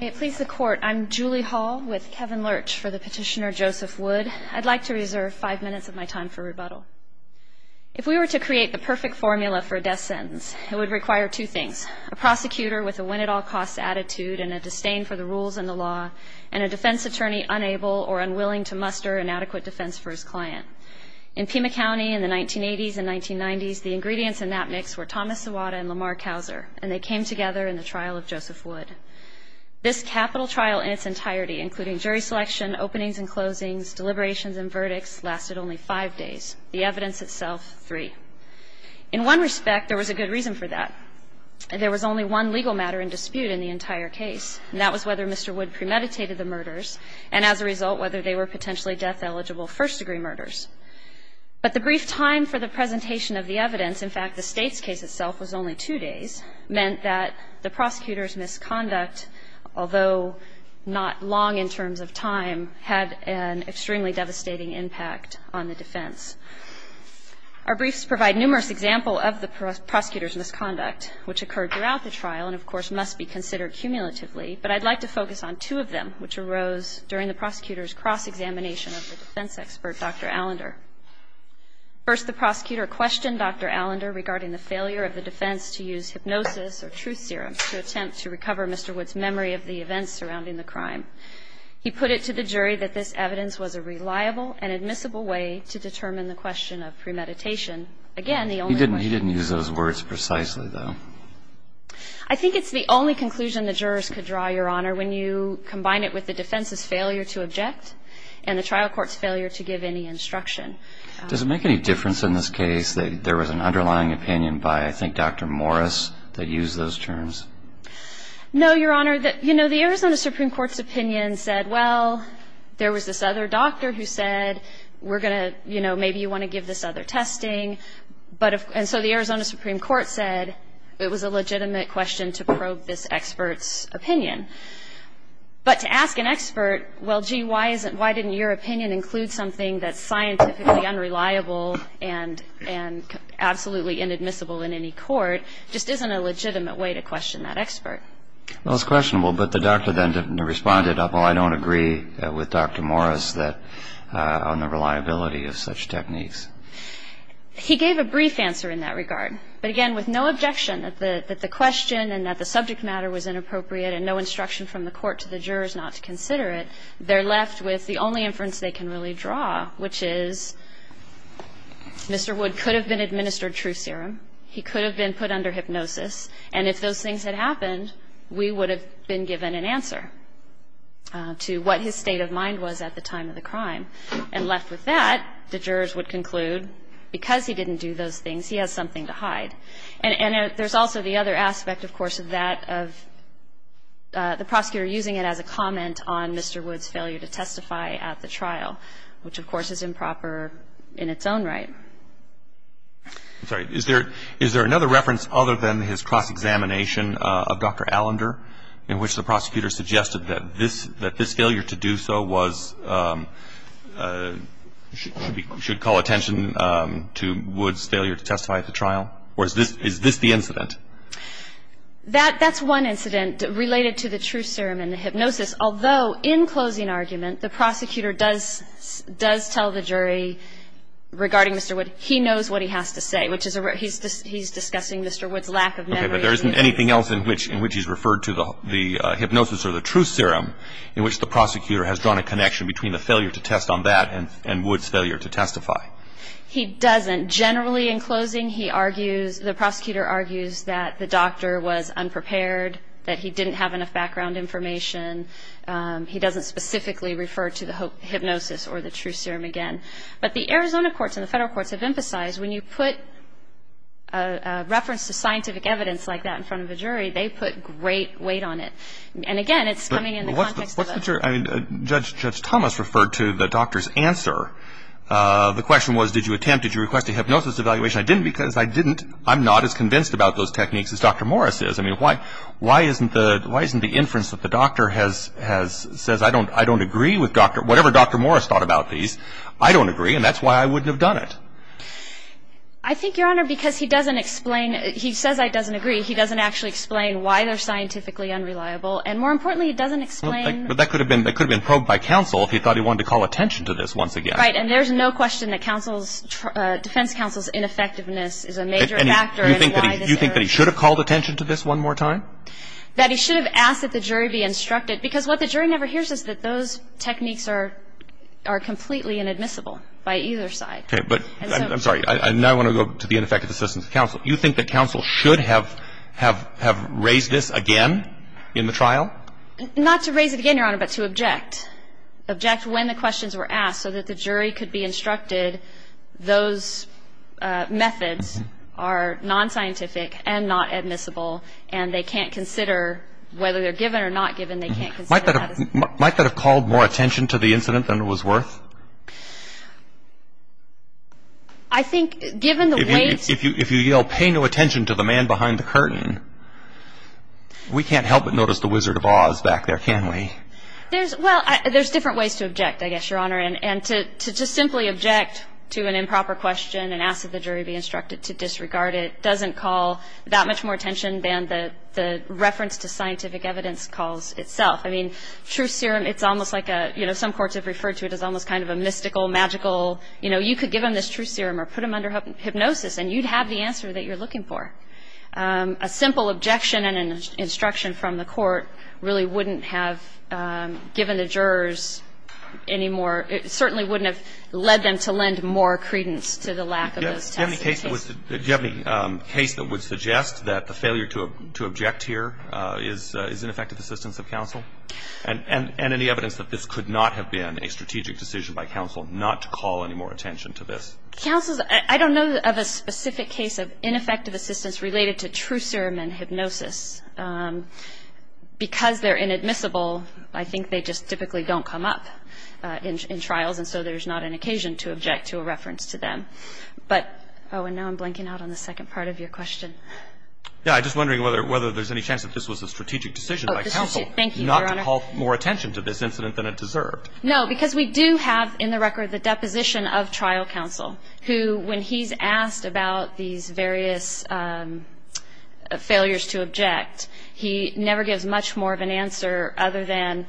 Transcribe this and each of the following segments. May it please the Court, I'm Julie Hall with Kevin Lurch for the petitioner Joseph Wood. I'd like to reserve five minutes of my time for rebuttal. If we were to create the perfect formula for a death sentence, it would require two things, a prosecutor with a win-at-all-costs attitude and a disdain for the rules and the law, and a defense attorney unable or unwilling to muster an adequate defense for his client. In Pima County in the 1980s and 1990s, the ingredients in that mix were Thomas Iwata and Lamar Couser, and they came together in the trial of Joseph Wood. This capital trial in its entirety, including jury selection, openings and closings, deliberations and verdicts, lasted only five days, the evidence itself three. In one respect, there was a good reason for that. There was only one legal matter in dispute in the entire case, and that was whether Mr. Wood premeditated the murders and, as a result, whether they were potentially death-eligible first-degree murders. But the brief time for the presentation of the evidence, in fact, the State's case itself was only two days, meant that the prosecutor's misconduct, although not long in terms of time, had an extremely devastating impact on the defense. Our briefs provide numerous examples of the prosecutor's misconduct, which occurred throughout the trial and, of course, must be considered cumulatively, but I'd like to focus on two of them, which arose during the prosecutor's cross-examination of the defense expert, Dr. Allender. First, the prosecutor questioned Dr. Allender regarding the failure of the defense to use hypnosis or truth serum to attempt to recover Mr. Wood's memory of the events surrounding the crime. He put it to the jury that this evidence was a reliable and admissible way to determine Again, the only question he could draw. He didn't use those words precisely, though. I think it's the only conclusion the jurors could draw, Your Honor, when you combine it with the defense's failure to object and the trial court's failure to give any instruction. Does it make any difference in this case that there was an underlying opinion by, I think, Dr. Morris that used those terms? No, Your Honor. You know, the Arizona Supreme Court's opinion said, well, there was this other doctor who said, we're going to, you know, maybe you want to give this other testing. And so the Arizona Supreme Court said it was a legitimate question to probe this expert's opinion. But to ask an expert, well, gee, why didn't your opinion include something that's scientifically unreliable and absolutely inadmissible in any court just isn't a legitimate way to question that expert. Well, it's questionable. But the doctor then responded, well, I don't agree with Dr. Morris on the reliability of such techniques. He gave a brief answer in that regard. But, again, with no objection that the question and that the subject matter was not to consider it, they're left with the only inference they can really draw, which is Mr. Wood could have been administered truth serum. He could have been put under hypnosis. And if those things had happened, we would have been given an answer to what his state of mind was at the time of the crime. And left with that, the jurors would conclude, because he didn't do those things, he has something to hide. And there's also the other aspect, of course, of that, of the prosecutor using it as a comment on Mr. Wood's failure to testify at the trial, which, of course, is improper in its own right. I'm sorry. Is there another reference other than his cross-examination of Dr. Allender in which the prosecutor suggested that this failure to do so was, should call attention to Wood's failure to testify at the trial? Or is this the incident? That's one incident related to the truth serum and the hypnosis. Although, in closing argument, the prosecutor does tell the jury regarding Mr. Wood, he knows what he has to say, which is he's discussing Mr. Wood's lack of memory. Okay. But there isn't anything else in which he's referred to the hypnosis or the truth serum in which the prosecutor has drawn a connection between the failure to test on that and Wood's failure to testify. He doesn't. Generally, in closing, he argues, the prosecutor argues that the doctor was unprepared, that he didn't have enough background information. He doesn't specifically refer to the hypnosis or the truth serum again. But the Arizona courts and the federal courts have emphasized when you put a reference to scientific evidence like that in front of a jury, they put great weight on it. And, again, it's coming in the context of a ---- But what's your, I mean, Judge Thomas referred to the doctor's answer. The question was, did you attempt, did you request a hypnosis evaluation? I didn't because I didn't. I'm not as convinced about those techniques as Dr. Morris is. I mean, why isn't the inference that the doctor has says, I don't agree with Dr. ---- Whatever Dr. Morris thought about these, I don't agree, and that's why I wouldn't have done it. I think, Your Honor, because he doesn't explain, he says I doesn't agree. He doesn't actually explain why they're scientifically unreliable. And, more importantly, he doesn't explain ---- But that could have been probed by counsel if he thought he wanted to call attention to this once again. Right. And there's no question that counsel's, defense counsel's ineffectiveness is a major factor in why this ---- You think that he should have called attention to this one more time? That he should have asked that the jury be instructed, because what the jury never hears is that those techniques are completely inadmissible by either side. Okay. But, I'm sorry, I now want to go to the ineffective assistance of counsel. You think that counsel should have raised this again in the trial? Not to raise it again, Your Honor, but to object. Object when the questions were asked so that the jury could be instructed those methods are nonscientific and not admissible, and they can't consider whether they're given or not given. They can't consider that as ---- Might that have called more attention to the incident than it was worth? I think, given the weight ---- If you yell, pay no attention to the man behind the curtain, we can't help but notice the Wizard of Oz back there, can we? Well, there's different ways to object, I guess, Your Honor. And to just simply object to an improper question and ask that the jury be instructed to disregard it doesn't call that much more attention than the reference to scientific evidence calls itself. I mean, truth serum, it's almost like a, you know, some courts have referred to it as almost kind of a mystical, magical, you know, you could give them this truth serum or put them under hypnosis and you'd have the answer that you're looking for. A simple objection and an instruction from the court really wouldn't have given the jurors any more ---- it certainly wouldn't have led them to lend more credence to the lack of those tests. Do you have any case that would suggest that the failure to object here is ineffective assistance of counsel? And any evidence that this could not have been a strategic decision by counsel not to call any more attention to this? Counsel's ---- I don't know of a specific case of ineffective assistance related to truth serum and hypnosis. Because they're inadmissible, I think they just typically don't come up in trials and so there's not an occasion to object to a reference to them. But ---- oh, and now I'm blanking out on the second part of your question. Yeah, I'm just wondering whether there's any chance that this was a strategic decision by counsel not to call more attention to this incident than it deserved. No, because we do have in the record the deposition of trial counsel, who when he's asked about these various failures to object, he never gives much more of an answer other than,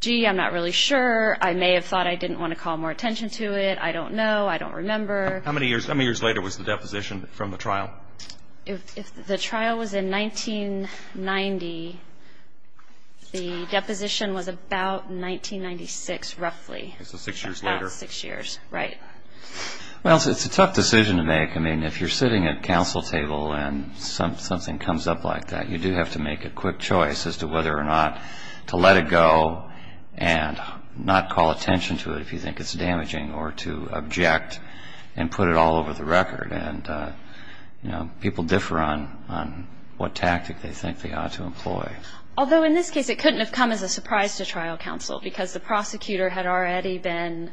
gee, I'm not really sure, I may have thought I didn't want to call more attention to it, I don't know, I don't remember. How many years later was the deposition from the trial? If the trial was in 1990, the deposition was about 1996 roughly. So six years later. About six years, right. Well, it's a tough decision to make. I mean, if you're sitting at a counsel table and something comes up like that, you do have to make a quick choice as to whether or not to let it go and not call attention to it if you think it's damaging, or to object and put it all over the record. And, you know, people differ on what tactic they think they ought to employ. Although in this case it couldn't have come as a surprise to trial counsel because the prosecutor had already been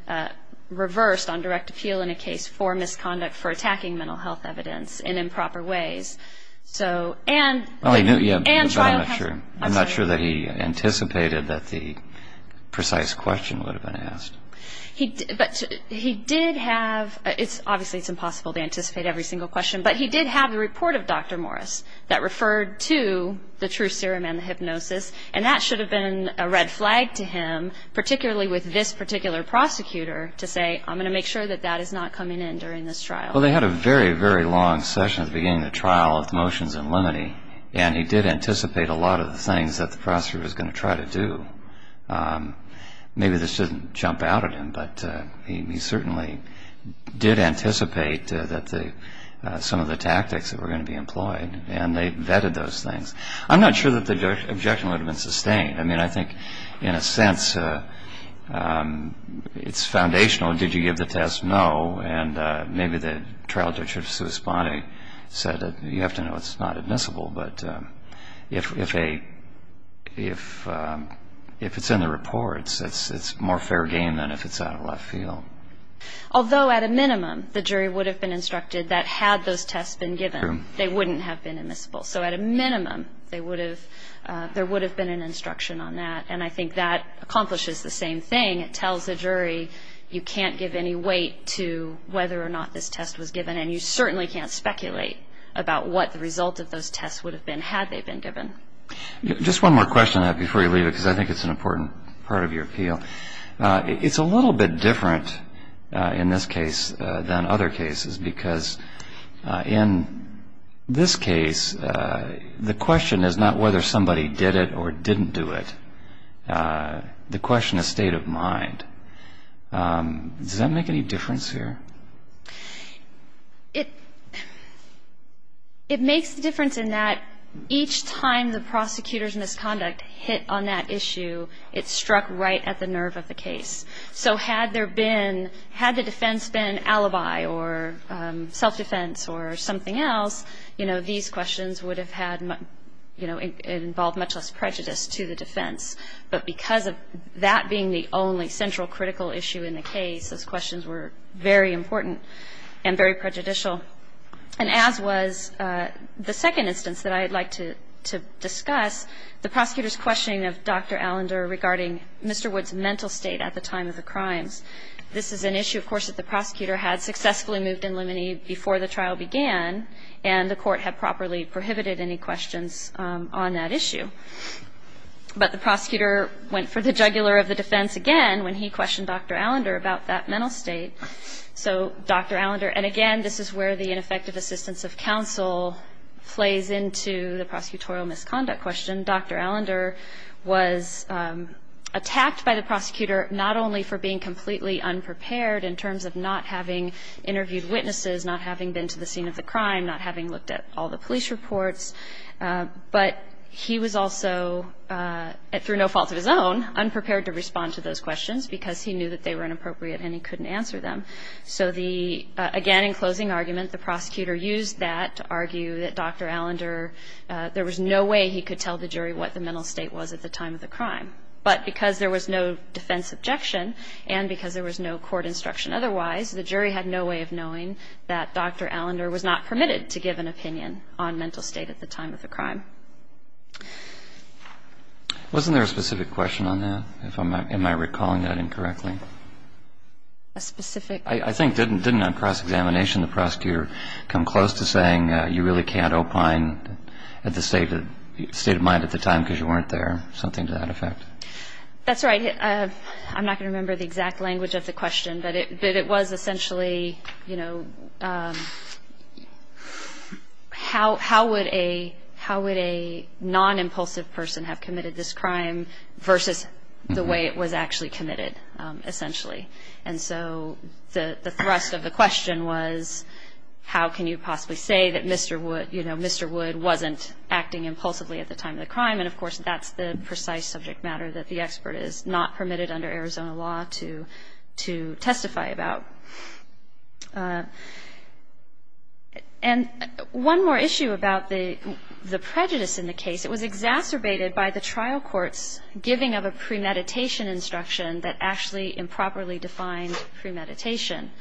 reversed on direct appeal in a case for misconduct, for attacking mental health evidence in improper ways. So, and trial counsel. I'm not sure that he anticipated that the precise question would have been asked. But he did have, obviously it's impossible to anticipate every single question, but he did have the report of Dr. Morris that referred to the true serum and the hypnosis, and that should have been a red flag to him, particularly with this particular prosecutor, to say, I'm going to make sure that that is not coming in during this trial. Well, they had a very, very long session at the beginning of the trial of motions in limine, and he did anticipate a lot of the things that the prosecutor was going to try to do. Maybe this doesn't jump out at him, but he certainly did anticipate that some of the tactics that were going to be employed, and they vetted those things. I'm not sure that the objection would have been sustained. I mean, I think in a sense it's foundational. Did you give the test? No. And maybe the trial judge should have said that you have to know it's not admissible. But if it's in the report, it's more fair game than if it's out of left field. Although at a minimum the jury would have been instructed that had those tests been given, they wouldn't have been admissible. So at a minimum there would have been an instruction on that, and I think that accomplishes the same thing. It tells the jury you can't give any weight to whether or not this test was given, and you certainly can't speculate about what the result of those tests would have been had they been given. Just one more question before you leave, because I think it's an important part of your appeal. It's a little bit different in this case than other cases, because in this case the question is not whether somebody did it or didn't do it. The question is state of mind. Does that make any difference here? It makes the difference in that each time the prosecutor's misconduct hit on that issue, it struck right at the nerve of the case. So had there been ñ had the defense been alibi or self-defense or something else, you know, these questions would have had, you know, involved much less prejudice to the defense. But because of that being the only central critical issue in the case, those questions were very important and very prejudicial. And as was the second instance that I'd like to discuss, the prosecutor's questioning of Dr. Allender regarding Mr. Wood's mental state at the time of the crimes. This is an issue, of course, that the prosecutor had successfully moved in limine before the trial began, and the court had properly prohibited any questions on that issue. But the prosecutor went for the jugular of the defense again when he questioned Dr. Allender about that mental state. So Dr. Allender ñ and again, this is where the ineffective assistance of counsel plays into the prosecutorial misconduct question. Dr. Allender was attacked by the prosecutor not only for being completely unprepared in terms of not having interviewed witnesses, not having been to the scene of the crime, not having looked at all the police reports, but he was also, through no fault of his own, unprepared to respond to those questions because he knew that they were inappropriate and he couldn't answer them. So the ñ again, in closing argument, the prosecutor used that to argue that Dr. Allender ñ there was no way he could tell the jury what the mental state was at the time of the crime. But because there was no defense objection and because there was no court instruction otherwise, the jury had no way of knowing that Dr. Allender was not permitted to give an opinion on mental state at the time of the crime. Wasn't there a specific question on that? If I'm ñ am I recalling that incorrectly? A specific ñ I think ñ didn't on cross-examination the prosecutor come close to saying you really can't opine at the state of mind at the time because you weren't there, something to that effect? That's right. I'm not going to remember the exact language of the question, but it was essentially, you know, how would a ñ how would a non-impulsive person have committed this crime versus the way it was actually committed, essentially? And so the thrust of the question was how can you possibly say that Mr. Wood ñ you know, Mr. Wood wasn't acting impulsively at the time of the crime? And, of course, that's the precise subject matter, that the expert is not permitted under Arizona law to testify about. And one more issue about the prejudice in the case, it was exacerbated by the trial court's giving of a premeditation instruction that actually improperly defined premeditation.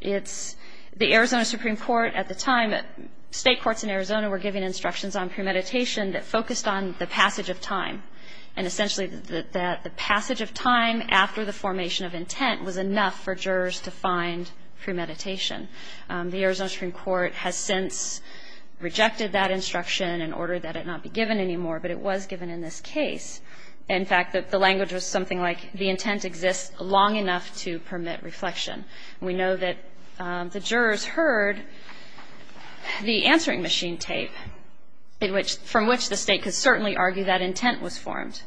It's ñ the Arizona Supreme Court at the time ñ state courts in Arizona were giving instructions on premeditation that focused on the passage of time, and essentially that the passage of time after the formation of intent was enough for jurors to find premeditation. The Arizona Supreme Court has since rejected that instruction and ordered that it not be given anymore, but it was given in this case. In fact, the language was something like, the intent exists long enough to permit reflection. We know that the jurors heard the answering machine tape, from which the state could certainly argue that intent was formed.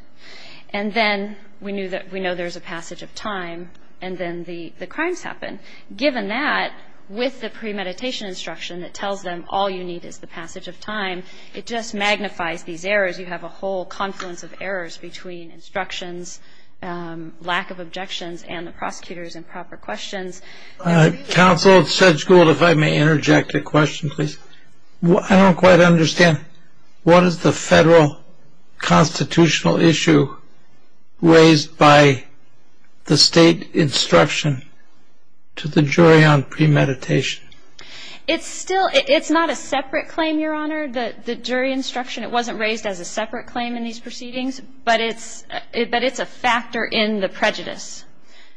And then we know there's a passage of time, and then the crimes happen. Given that, with the premeditation instruction that tells them all you need is the passage of time, it just magnifies these errors. You have a whole confluence of errors between instructions, lack of objections, and the prosecutor's improper questions. Counsel, Judge Gould, if I may interject a question, please. I don't quite understand. What is the federal constitutional issue raised by the state instruction to the jury on premeditation? It's still ñ it's not a separate claim, Your Honor, the jury instruction. It wasn't raised as a separate claim in these proceedings, but it's a factor in the prejudice.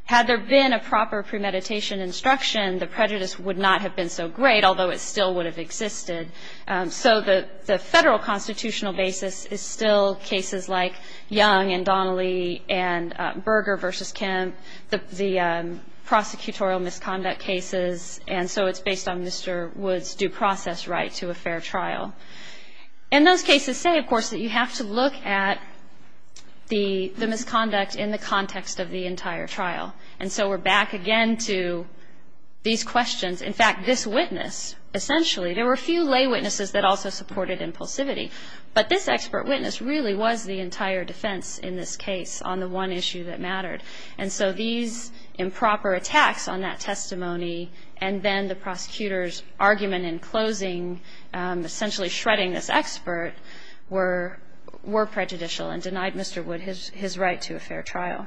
Had there been a proper premeditation instruction, the prejudice would not have been so great, although it still would have existed. So the federal constitutional basis is still cases like Young and Donnelly and Berger v. Kemp, the prosecutorial misconduct cases, and so it's based on Mr. Wood's due process right to a fair trial. And those cases say, of course, that you have to look at the misconduct in the context of the entire trial. And so we're back again to these questions. In fact, this witness, essentially, there were a few lay witnesses that also supported impulsivity, but this expert witness really was the entire defense in this case on the one issue that mattered. And so these improper attacks on that testimony and then the prosecutor's argument in closing, essentially shredding this expert, were prejudicial and denied Mr. Wood his right to a fair trial.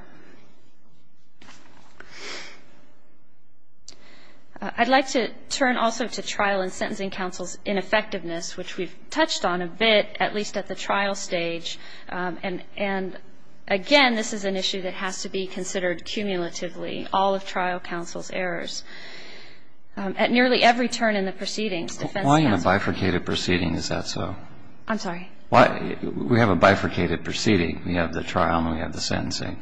I'd like to turn also to trial and sentencing counsel's ineffectiveness, which we've touched on a bit, at least at the trial stage. And, again, this is an issue that has to be considered cumulatively, all of trial counsel's errors. At nearly every turn in the proceedings, defense counsel's errors, we have a bifurcated proceeding. Is that so? I'm sorry? We have a bifurcated proceeding. We have the trial and we have the sentencing.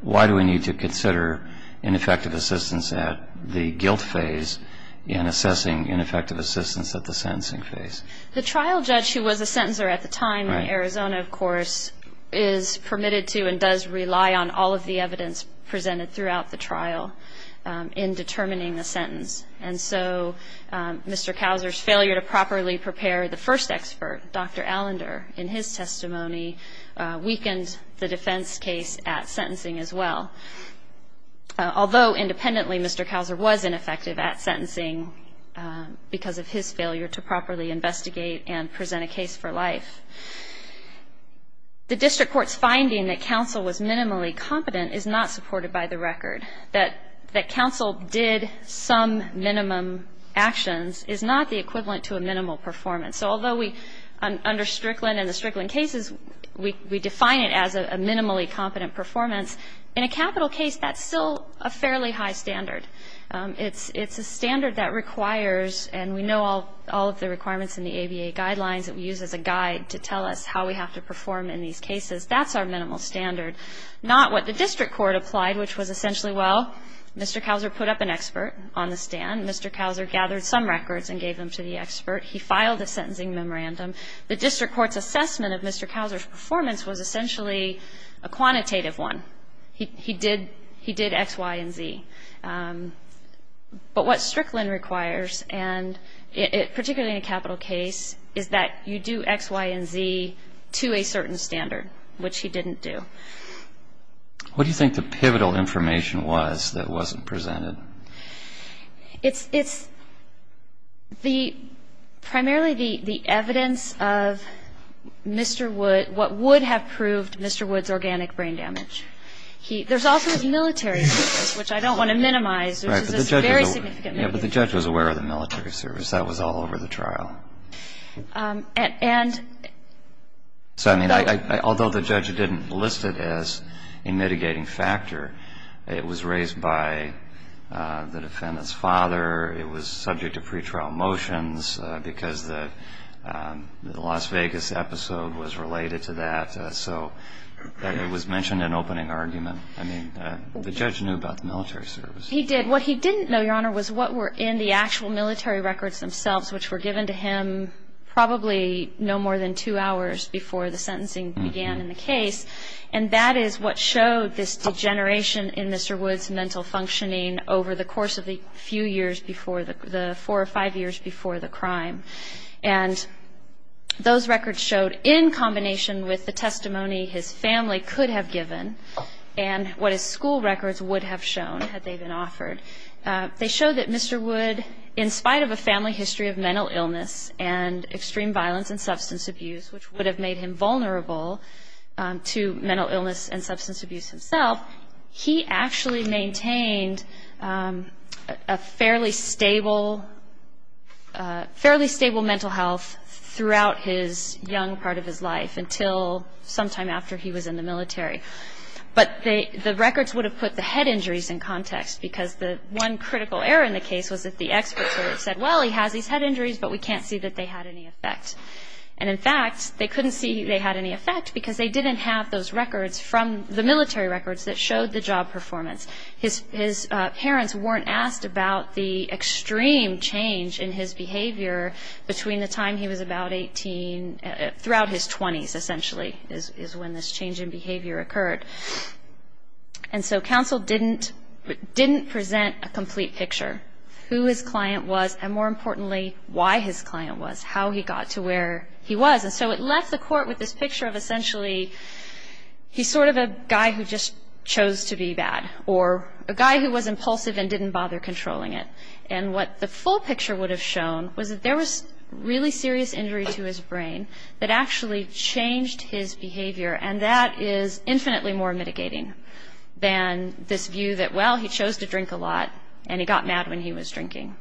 Why do we need to consider ineffective assistance at the guilt phase in assessing ineffective assistance at the sentencing phase? The trial judge, who was a sentencer at the time in Arizona, of course, is permitted to and does rely on all of the evidence presented throughout the trial in determining the sentence. And so Mr. Kauser's failure to properly prepare the first expert, Dr. Allender, in his testimony weakened the defense case at sentencing as well. Although independently, Mr. Kauser was ineffective at sentencing because of his failure to properly investigate and present a case for life. The district court's finding that counsel was minimally competent is not supported by the record, that counsel did some minimum actions is not the equivalent to a minimal performance. So although we, under Strickland and the Strickland cases, we define it as a minimally competent performance, in a capital case that's still a fairly high standard. It's a standard that requires, and we know all of the requirements in the ABA guidelines that we use as a guide to tell us how we have to perform in these cases, that's our minimal standard, not what the district court applied, which was essentially, well, Mr. Kauser put up an expert on the stand. Mr. Kauser gathered some records and gave them to the expert. He filed a sentencing memorandum. The district court's assessment of Mr. Kauser's performance was essentially a quantitative one. He did X, Y, and Z. But what Strickland requires, and particularly in a capital case, is that you do X, Y, and Z to a certain standard, which he didn't do. What do you think the pivotal information was that wasn't presented? It's primarily the evidence of what would have proved Mr. Wood's organic brain damage. There's also his military service, which I don't want to minimize. Right, but the judge was aware of the military service. That was all over the trial. Although the judge didn't list it as a mitigating factor, it was raised by the defendant's father. It was subject to pretrial motions because the Las Vegas episode was related to that. So it was mentioned in opening argument. I mean, the judge knew about the military service. He did. What he didn't know, Your Honor, was what were in the actual military records themselves, which were given to him probably no more than two hours before the sentencing began in the case, and that is what showed this degeneration in Mr. Wood's mental functioning over the course of the four or five years before the crime. And those records showed, in combination with the testimony his family could have given and what his school records would have shown had they been offered, they showed that Mr. Wood, in spite of a family history of mental illness and extreme violence and substance abuse, which would have made him vulnerable to mental illness and substance abuse himself, he actually maintained a fairly stable mental health throughout his young part of his life until sometime after he was in the military. But the records would have put the head injuries in context because the one critical error in the case was that the experts would have said, well, he has these head injuries, but we can't see that they had any effect. And, in fact, they couldn't see they had any effect because they didn't have those records from the military records that showed the job performance. His parents weren't asked about the extreme change in his behavior between the time he was about 18, throughout his 20s, essentially, is when this change in behavior occurred. And so counsel didn't present a complete picture of who his client was and, more importantly, why his client was, how he got to where he was. And so it left the court with this picture of, essentially, he's sort of a guy who just chose to be bad or a guy who was impulsive and didn't bother controlling it. And what the full picture would have shown was that there was really serious injury to his brain that actually changed his behavior. And that is infinitely more mitigating than this view that, well, he chose to drink a lot and he got mad when he was drinking.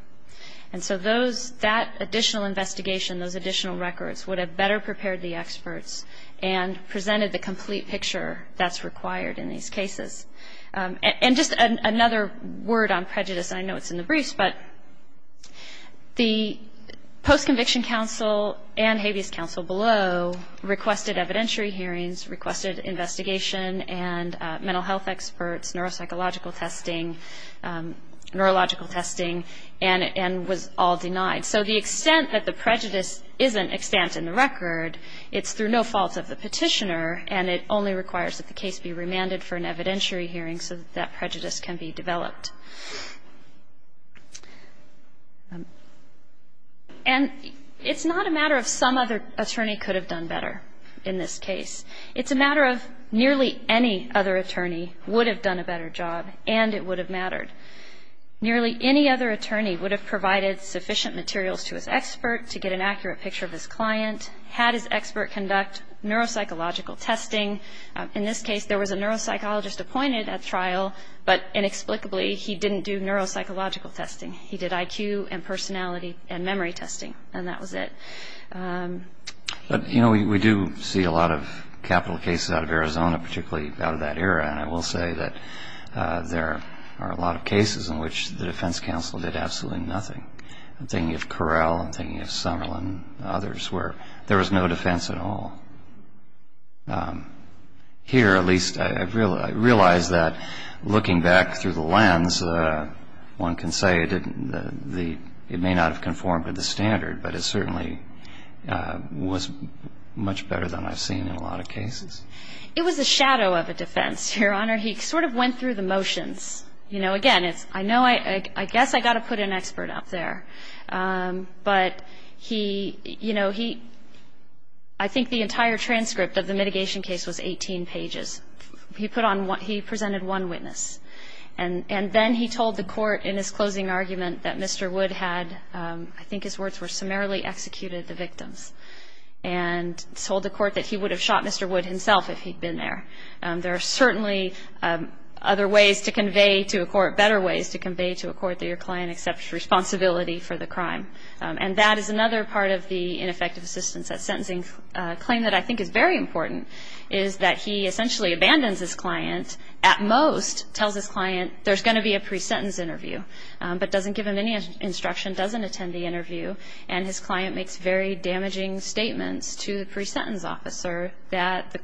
And so that additional investigation, those additional records, would have better prepared the experts and presented the complete picture that's required in these cases. And just another word on prejudice, and I know it's in the briefs, but the post-conviction counsel and habeas counsel below requested evidentiary hearings, requested investigation and mental health experts, neuropsychological testing, neurological testing, and was all denied. So the extent that the prejudice isn't extant in the record, it's through no fault of the petitioner, and it only requires that the case be remanded for an evidentiary hearing so that that prejudice can be developed. And it's not a matter of some other attorney could have done better in this case. It's a matter of nearly any other attorney would have done a better job and it would have mattered. Nearly any other attorney would have provided sufficient materials to his expert to get an accurate picture of his client, had his expert conduct neuropsychological testing. In this case, there was a neuropsychologist appointed at trial, but inexplicably he didn't do neuropsychological testing. He did IQ and personality and memory testing, and that was it. But, you know, we do see a lot of capital cases out of Arizona, particularly out of that era, and I will say that there are a lot of cases in which the defense counsel did absolutely nothing. I'm thinking of Correll, I'm thinking of Summerlin, others where there was no defense at all. Here, at least, I realize that looking back through the lens, one can say it may not have conformed to the standard, but it certainly was much better than I've seen in a lot of cases. It was a shadow of a defense, Your Honor. He sort of went through the motions. You know, again, I guess I've got to put an expert up there, but I think the entire transcript of the mitigation case was 18 pages. He presented one witness, and then he told the court in his closing argument that Mr. Wood had, I think his words were, summarily executed the victims, and told the court that he would have shot Mr. Wood himself if he'd been there. There are certainly other ways to convey to a court, better ways to convey to a court that your client accepts responsibility for the crime, and that is another part of the ineffective assistance. That sentencing claim that I think is very important is that he essentially abandons his client, at most tells his client there's going to be a pre-sentence interview, but doesn't give him any instruction, doesn't attend the interview, and his client makes very damaging statements to the pre-sentence officer that the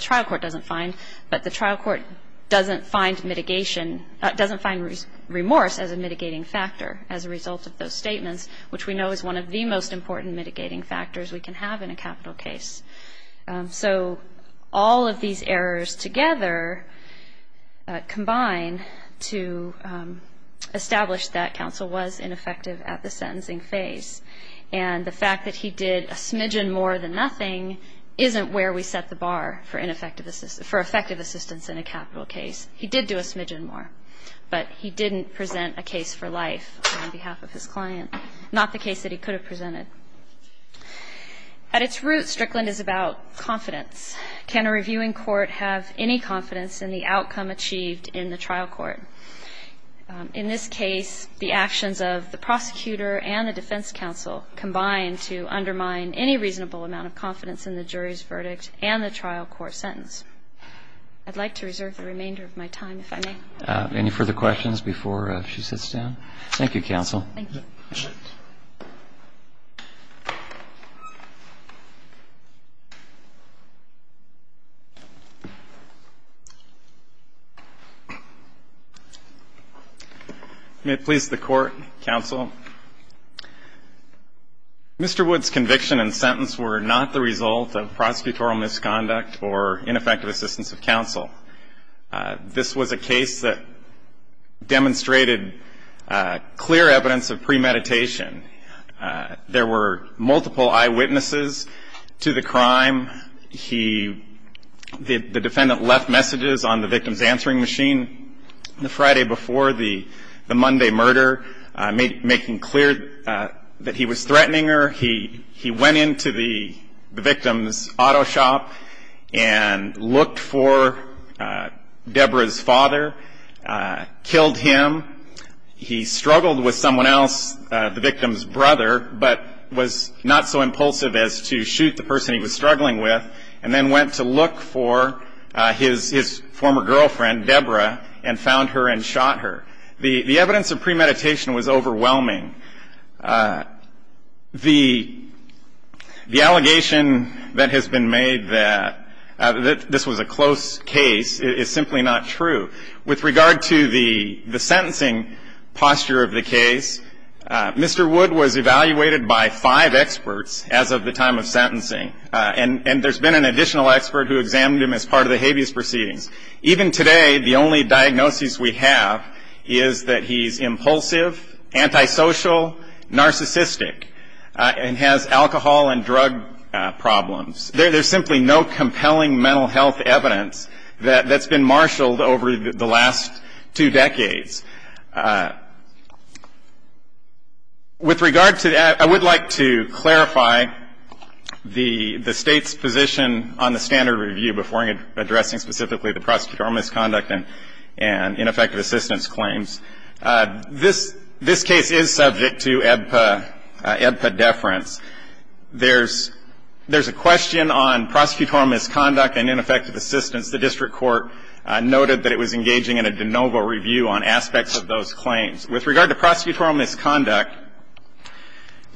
trial court doesn't find, but the trial court doesn't find remorse as a mitigating factor as a result of those statements, which we know is one of the most important mitigating factors we can have in a capital case. So all of these errors together combine to establish that counsel was ineffective at the sentencing phase, and the fact that he did a smidgen more than nothing isn't where we set the bar for effective assistance in a capital case. He did do a smidgen more, but he didn't present a case for life on behalf of his client, not the case that he could have presented. At its root, Strickland is about confidence. Can a reviewing court have any confidence in the outcome achieved in the trial court? In this case, the actions of the prosecutor and the defense counsel combine to undermine any reasonable amount of confidence in the jury's verdict and the trial court sentence. I'd like to reserve the remainder of my time, if I may. Any further questions before she sits down? Thank you, counsel. Thank you. May it please the Court, counsel. Mr. Wood's conviction and sentence were not the result of prosecutorial misconduct or ineffective assistance of counsel. This was a case that demonstrated clear evidence of premeditation. There were multiple eyewitnesses to the crime. The defendant left messages on the victim's answering machine. The Friday before the Monday murder, making clear that he was threatening her, he went into the victim's auto shop and looked for Deborah's father, killed him. He struggled with someone else, the victim's brother, but was not so impulsive as to shoot the person he was struggling with, and then went to look for his former girlfriend, Deborah, and found her and shot her. The evidence of premeditation was overwhelming. The allegation that has been made that this was a close case is simply not true. With regard to the sentencing posture of the case, Mr. Wood was evaluated by five experts as of the time of sentencing, and there's been an additional expert who examined him as part of the habeas proceedings. Even today, the only diagnosis we have is that he's impulsive, antisocial, narcissistic, and has alcohol and drug problems. There's simply no compelling mental health evidence that's been marshaled over the last two decades. With regard to that, I would like to clarify the State's position on the standard review before addressing specifically the prosecutorial misconduct and ineffective assistance claims. This case is subject to EBPA deference. There's a question on prosecutorial misconduct and ineffective assistance. The District Court noted that it was engaging in a de novo review on aspects of those claims. With regard to prosecutorial misconduct,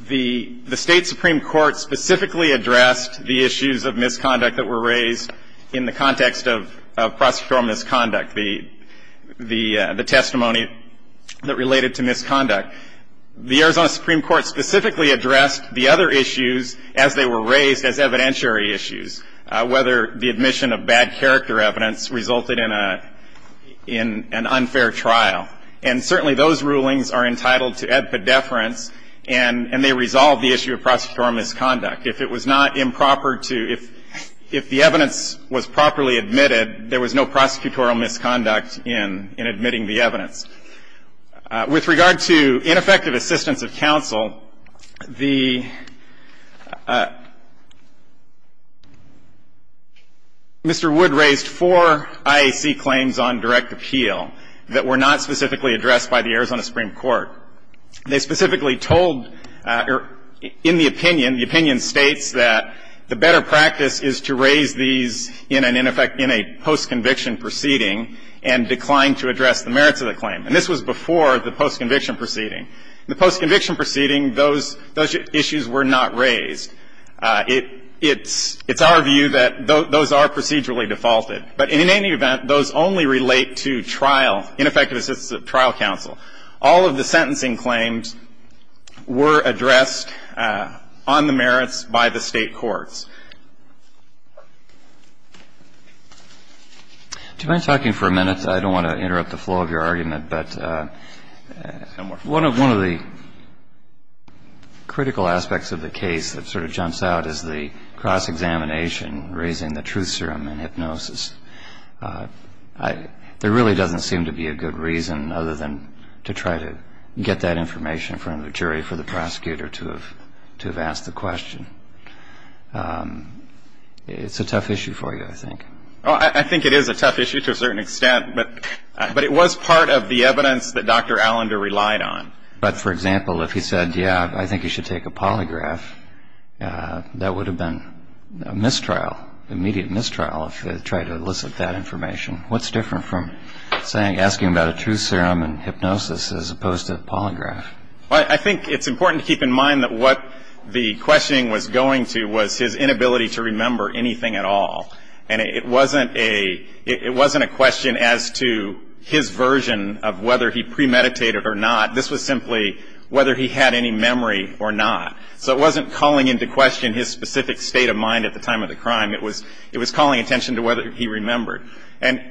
the State Supreme Court specifically addressed the issues of misconduct that were raised in the context of prosecutorial misconduct, the testimony that related to misconduct. The Arizona Supreme Court specifically addressed the other issues as they were raised as evidentiary issues, whether the admission of bad character evidence resulted in an unfair trial. And certainly those rulings are entitled to EBPA deference, and they resolve the issue of prosecutorial misconduct. If it was not improper to – if the evidence was properly admitted, there was no prosecutorial misconduct in admitting the evidence. With regard to ineffective assistance of counsel, the – Mr. Wood raised four IAC claims on direct appeal that were not specifically addressed by the Arizona Supreme Court. They specifically told – in the opinion, the opinion states that the better practice is to raise these in an – in effect, in a post-conviction proceeding and decline to address the merits of the claim. And this was before the post-conviction proceeding. In the post-conviction proceeding, those issues were not raised. It's our view that those are procedurally defaulted. But in any event, those only relate to trial, ineffective assistance of trial counsel. All of the sentencing claims were addressed on the merits by the State courts. Do you mind talking for a minute? I don't want to interrupt the flow of your argument. But one of the critical aspects of the case that sort of jumps out is the cross-examination, raising the truth serum in hypnosis. There really doesn't seem to be a good reason other than to try to get that information in front of a jury for the prosecutor to have asked the question. It's a tough issue for you, I think. Well, I think it is a tough issue to a certain extent. But it was part of the evidence that Dr. Allender relied on. But, for example, if he said, yeah, I think you should take a polygraph, that would have been a mistrial, immediate mistrial, if he had tried to elicit that information. What's different from saying – asking about a truth serum in hypnosis as opposed to the polygraph? Well, I think it's important to keep in mind that what the questioning was going to was his inability to remember anything at all. And it wasn't a question as to his version of whether he premeditated or not. This was simply whether he had any memory or not. So it wasn't calling into question his specific state of mind at the time of the crime. It was calling attention to whether he remembered. And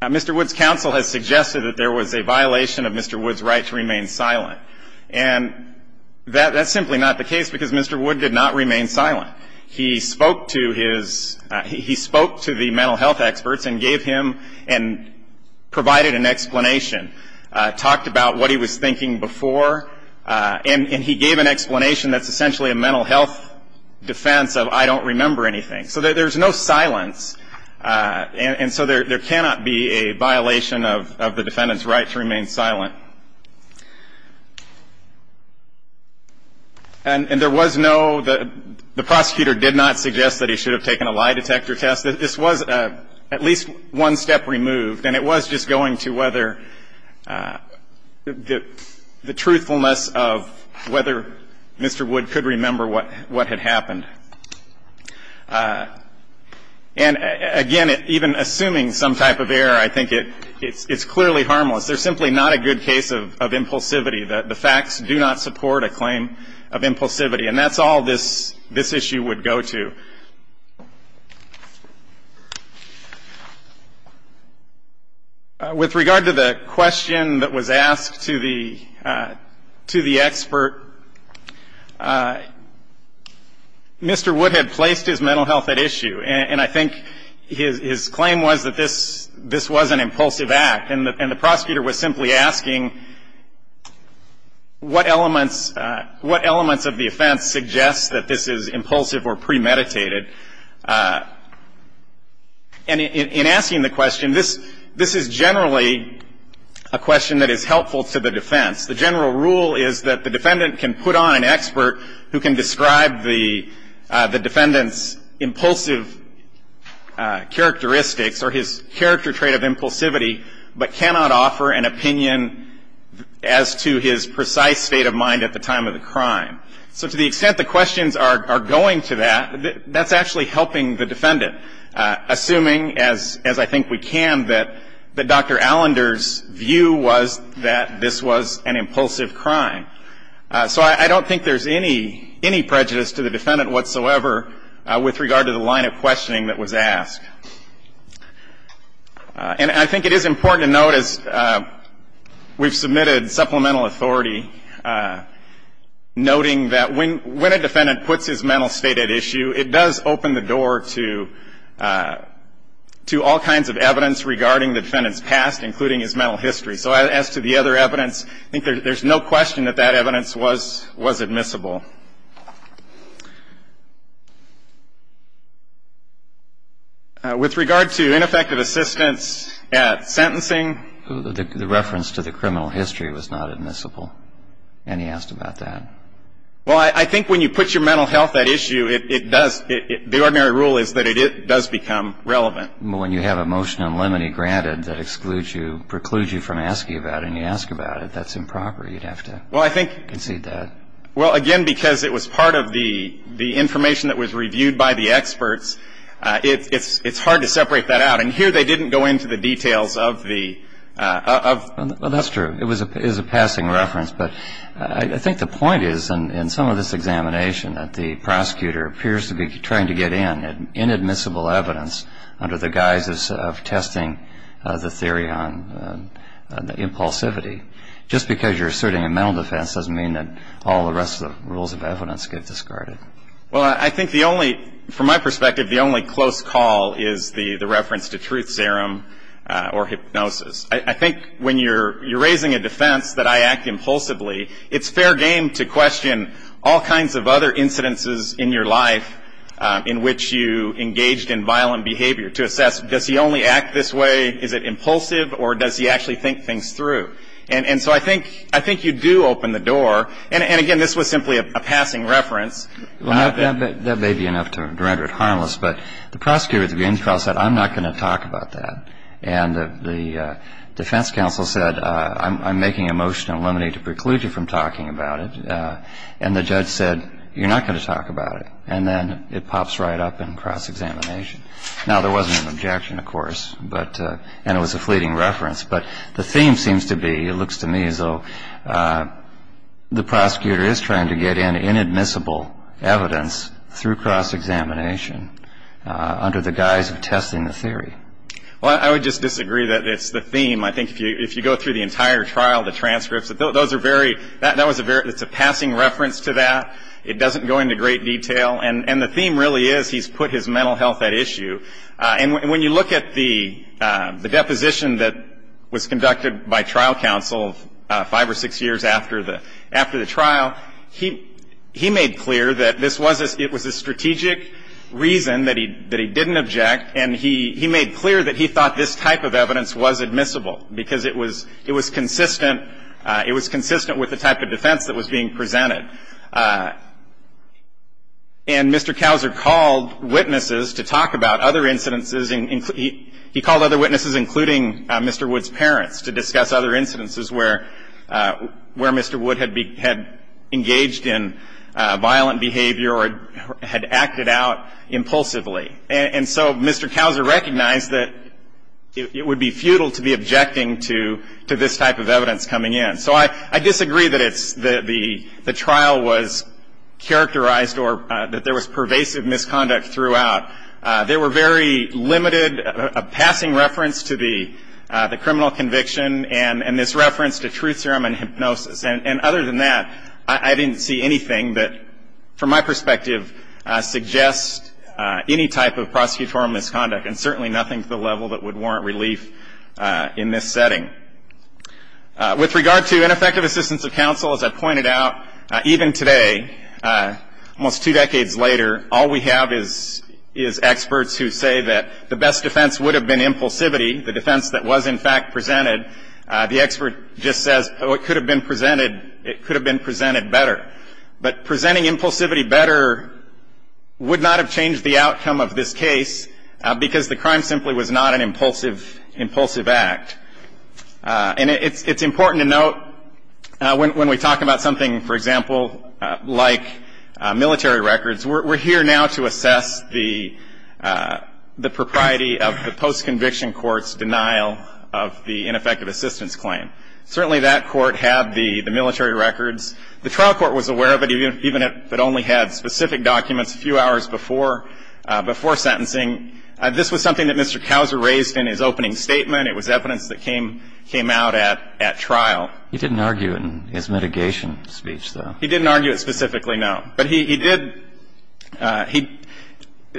Mr. Wood's counsel has suggested that there was a violation of Mr. Wood's right to remain silent. And that's simply not the case because Mr. Wood did not remain silent. He spoke to his – he spoke to the mental health experts and gave him and provided an explanation, talked about what he was thinking before, and he gave an explanation that's essentially a mental health defense of I don't remember anything. So there's no silence. And so there cannot be a violation of the defendant's right to remain silent. And there was no – the prosecutor did not suggest that he should have taken a lie detector test. This was at least one step removed. And it was just going to whether – the truthfulness of whether Mr. Wood could remember what had happened. And, again, even assuming some type of error, I think it's clearly harmless. There's simply not a good case of impulsivity. The facts do not support a claim of impulsivity. And that's all this issue would go to. With regard to the question that was asked to the expert, Mr. Wood had placed his mental health at issue. And I think his claim was that this was an impulsive act. And the prosecutor was simply asking what elements of the offense suggests that this is impulsive or premeditated. And in asking the question, this is generally a question that is helpful to the defense. The general rule is that the defendant can put on an expert who can describe the defendant's impulsive characteristics or his character trait of impulsivity, but cannot offer an opinion as to his precise state of mind at the time of the crime. So to the extent the questions are going to that, that's actually helping the defendant, assuming, as I think we can, that Dr. Allender's view was that this was an impulsive crime. So I don't think there's any prejudice to the defendant whatsoever with regard to the line of questioning that was asked. And I think it is important to note, as we've submitted supplemental authority, noting that when a defendant puts his mental state at issue, it does open the door to all kinds of evidence regarding the defendant's past, including his mental history. So as to the other evidence, I think there's no question that that evidence was admissible. With regard to ineffective assistance at sentencing. The reference to the criminal history was not admissible. And he asked about that. Well, I think when you put your mental health at issue, it does, the ordinary rule is that it does become relevant. When you have a motion on limine granted that precludes you from asking about it and you ask about it, that's improper. You'd have to concede that. Well, again, because it was part of the information that was reviewed by the experts, it's hard to separate that out. And here they didn't go into the details of the ‑‑ Well, that's true. It was a passing reference. But I think the point is, in some of this examination, that the prosecutor appears to be trying to get in inadmissible evidence under the guise of testing the theory on impulsivity. Just because you're asserting a mental defense doesn't mean that all the rest of the rules of evidence get discarded. Well, I think the only, from my perspective, the only close call is the reference to truth serum or hypnosis. I think when you're raising a defense that I act impulsively, it's fair game to question all kinds of other incidences in your life in which you engaged in violent behavior to assess, does he only act this way, is it impulsive, or does he actually think things through? And so I think you do open the door. And, again, this was simply a passing reference. Well, that may be enough to render it harmless. But the prosecutor at the beginning of the trial said, I'm not going to talk about that. And the defense counsel said, I'm making a motion to eliminate a preclusion from talking about it. And the judge said, you're not going to talk about it. And then it pops right up in cross-examination. Now, there wasn't an objection, of course, and it was a fleeting reference. But the theme seems to be, it looks to me as though the prosecutor is trying to get in inadmissible evidence through cross-examination under the guise of testing the theory. Well, I would just disagree that it's the theme. I think if you go through the entire trial, the transcripts, those are very, that was a very, it's a passing reference to that. It doesn't go into great detail. And the theme really is he's put his mental health at issue. And when you look at the deposition that was conducted by trial counsel five or six years after the trial, he made clear that this was a strategic reason that he didn't object. And he made clear that he thought this type of evidence was admissible because it was consistent. It was consistent with the type of defense that was being presented. And Mr. Couser called witnesses to talk about other incidences. He called other witnesses, including Mr. Wood's parents, to discuss other incidences where Mr. Wood had engaged in violent behavior or had acted out impulsively. And so Mr. Couser recognized that it would be futile to be objecting to this type of evidence coming in. So I disagree that the trial was characterized or that there was pervasive misconduct throughout. There were very limited, a passing reference to the criminal conviction and this reference to truth serum and hypnosis. And other than that, I didn't see anything that from my perspective suggests any type of prosecutorial misconduct and certainly nothing to the level that would warrant relief in this setting. With regard to ineffective assistance of counsel, as I pointed out, even today, almost two decades later, all we have is experts who say that the best defense would have been impulsivity, the defense that was in fact presented. The expert just says, oh, it could have been presented better. But presenting impulsivity better would not have changed the outcome of this case because the crime simply was not an impulsive act. And it's important to note when we talk about something, for example, like military records, we're here now to assess the propriety of the post-conviction court's denial of the ineffective assistance claim. Certainly that court had the military records. The trial court was aware of it, even if it only had specific documents a few hours before sentencing. This was something that Mr. Couser raised in his opening statement. It was evidence that came out at trial. He didn't argue it in his mitigation speech, though. He didn't argue it specifically, no. But he did – he –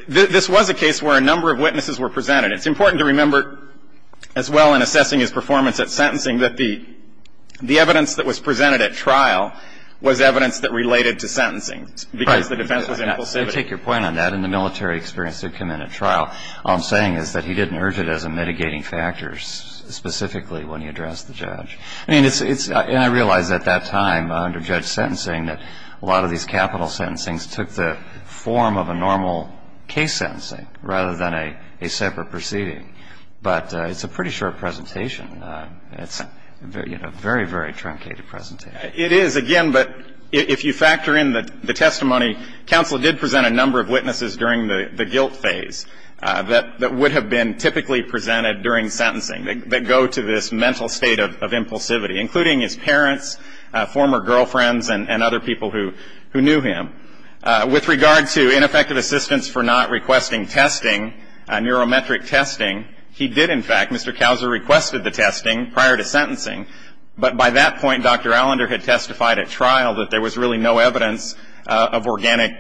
this was a case where a number of witnesses were presented. It's important to remember, as well, in assessing his performance at sentencing, that the evidence that was presented at trial was evidence that related to sentencing because the defense was impulsivity. Right. I take your point on that. In the military experience that came in at trial, all I'm saying is that he didn't urge it as a mitigating factor specifically when he addressed the judge. I mean, it's – and I realize at that time under judge sentencing that a lot of these capital sentencings took the form of a normal case sentencing rather than a separate proceeding. But it's a pretty short presentation. It's, you know, a very, very truncated presentation. It is, again, but if you factor in the testimony, counsel did present a number of witnesses during the guilt phase that would have been typically presented during sentencing that go to this mental state of impulsivity, including his parents, former girlfriends, and other people who knew him. With regard to ineffective assistance for not requesting testing, neurometric testing, he did, in fact, Mr. Couser requested the testing prior to sentencing. But by that point, Dr. Allender had testified at trial that there was really no evidence of organic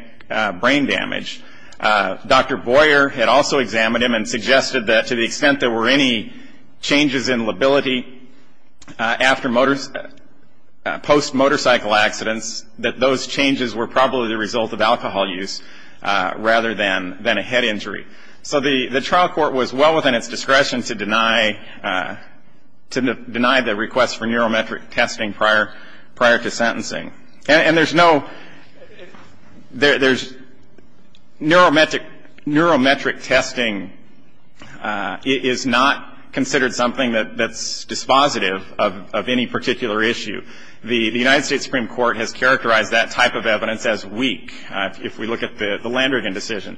brain damage. Dr. Boyer had also examined him and suggested that to the extent there were any changes in lability after motor – post-motorcycle accidents, that those changes were probably the result of alcohol use rather than a head injury. So the trial court was well within its discretion to deny the request for neurometric testing prior to sentencing. And there's no – there's – neurometric testing is not considered something that's dispositive of any particular issue. The United States Supreme Court has characterized that type of evidence as weak, if we look at the Landrigan decision.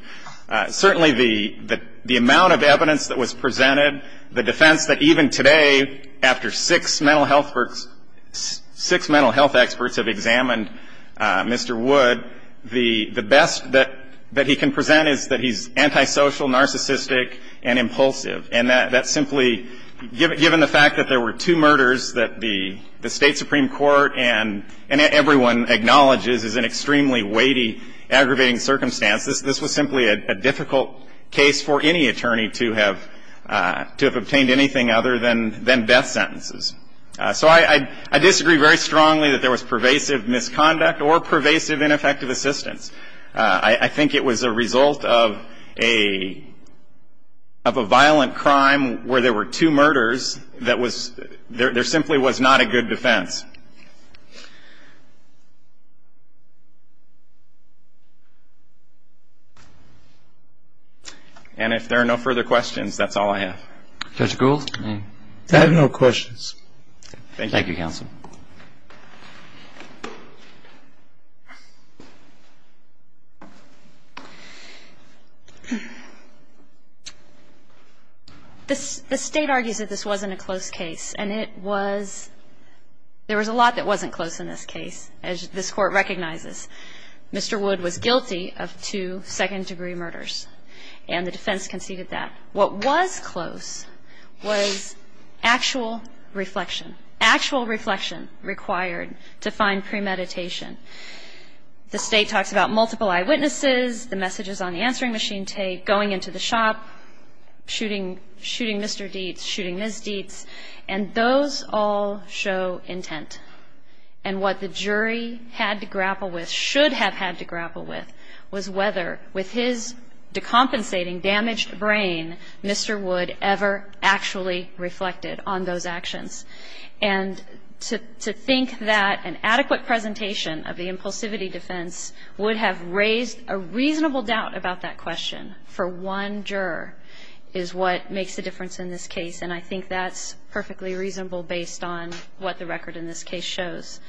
Certainly, the amount of evidence that was presented, the defense that even today, after six mental health – six mental health experts have examined Mr. Wood, the best that he can present is that he's antisocial, narcissistic, and impulsive. And that's simply – given the fact that there were two murders that the State Supreme Court and everyone acknowledges is an extremely weighty, aggravating circumstance, this was simply a difficult case for any attorney to have obtained anything other than death sentences. So I disagree very strongly that there was pervasive misconduct or pervasive ineffective assistance. I think it was a result of a violent crime where there were two murders that was – there simply was not a good defense. And if there are no further questions, that's all I have. Judge Gould? I have no questions. Thank you. Thank you, counsel. The State argues that this wasn't a close case. And it was – there were two murders. There was a lot that wasn't close in this case, as this Court recognizes. Mr. Wood was guilty of two second-degree murders, and the defense conceded that. What was close was actual reflection – actual reflection required to find premeditation. The State talks about multiple eyewitnesses, the messages on the answering machine tape, going into the shop, shooting Mr. Dietz, shooting Ms. Dietz. And those all show intent. And what the jury had to grapple with – should have had to grapple with – was whether, with his decompensating, damaged brain, Mr. Wood ever actually reflected on those actions. And to think that an adequate presentation of the impulsivity defense would have raised a reasonable doubt about that question for one juror is what makes a difference in this case. And I think that's perfectly reasonable based on what the record in this case shows.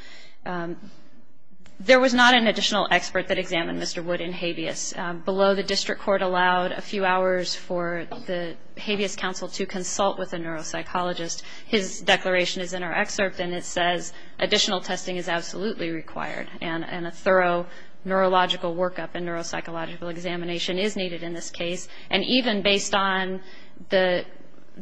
There was not an additional expert that examined Mr. Wood in habeas. Below, the district court allowed a few hours for the habeas counsel to consult with a neuropsychologist. His declaration is in our excerpt, and it says, Additional testing is absolutely required, and a thorough neurological workup and neuropsychological examination is needed in this case. And even based on the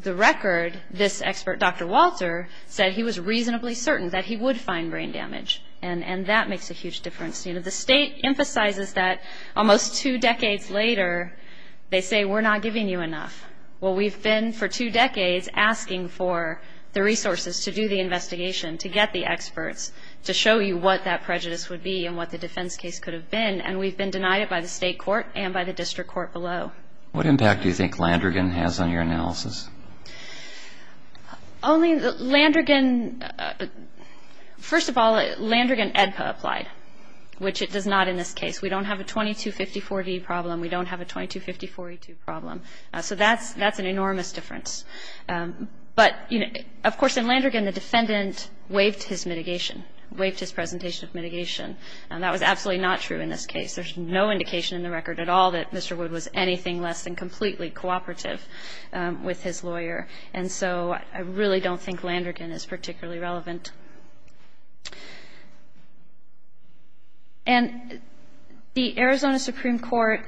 record, this expert, Dr. Walter, said he was reasonably certain that he would find brain damage, and that makes a huge difference. The State emphasizes that almost two decades later, they say, We're not giving you enough. Well, we've been for two decades asking for the resources to do the investigation, to get the experts, to show you what that prejudice would be and what the defense case could have been, and we've been denied it by the State court and by the district court below. What impact do you think Landrigan has on your analysis? Only Landrigan, first of all, Landrigan EDPA applied, which it does not in this case. We don't have a 2254D problem. We don't have a 2254E2 problem. So that's an enormous difference. But, of course, in Landrigan, the defendant waived his mitigation, waived his presentation of mitigation, and that was absolutely not true in this case. There's no indication in the record at all that Mr. Wood was anything less than completely cooperative with his lawyer, and so I really don't think Landrigan is particularly relevant. And the Arizona Supreme Court,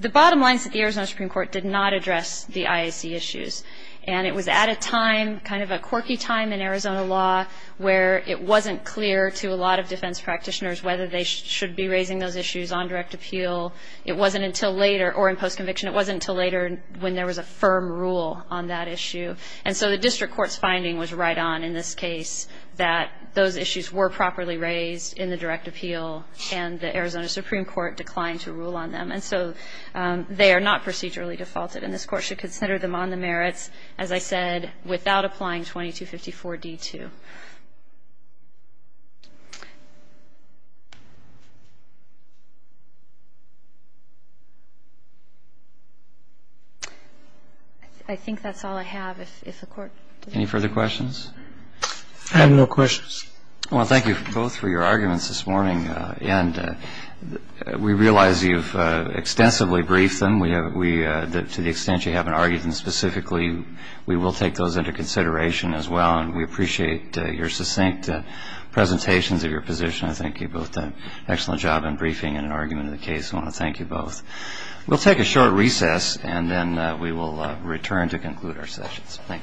the bottom line is that the Arizona Supreme Court did not address the IAC issues, and it was at a time, kind of a quirky time in Arizona law, where it wasn't clear to a lot of defense practitioners whether they should be raising those issues on direct appeal. It wasn't until later, or in postconviction, it wasn't until later when there was a firm rule on that issue. And so the district court's finding was right on in this case that those issues were properly raised in the direct appeal, and the Arizona Supreme Court declined to rule on them. And so they are not procedurally defaulted, and this court should consider them on the merits, as I said, without applying 2254D2. I think that's all I have. If the Court... Any further questions? I have no questions. Well, thank you both for your arguments this morning, and we realize you've extensively briefed them. To the extent you haven't argued them specifically, and we appreciate the opportunity to hear from you. I appreciate your succinct presentations of your position. I think you both did an excellent job in briefing and in arguing the case. I want to thank you both. We'll take a short recess, and then we will return to conclude our sessions. Thank you.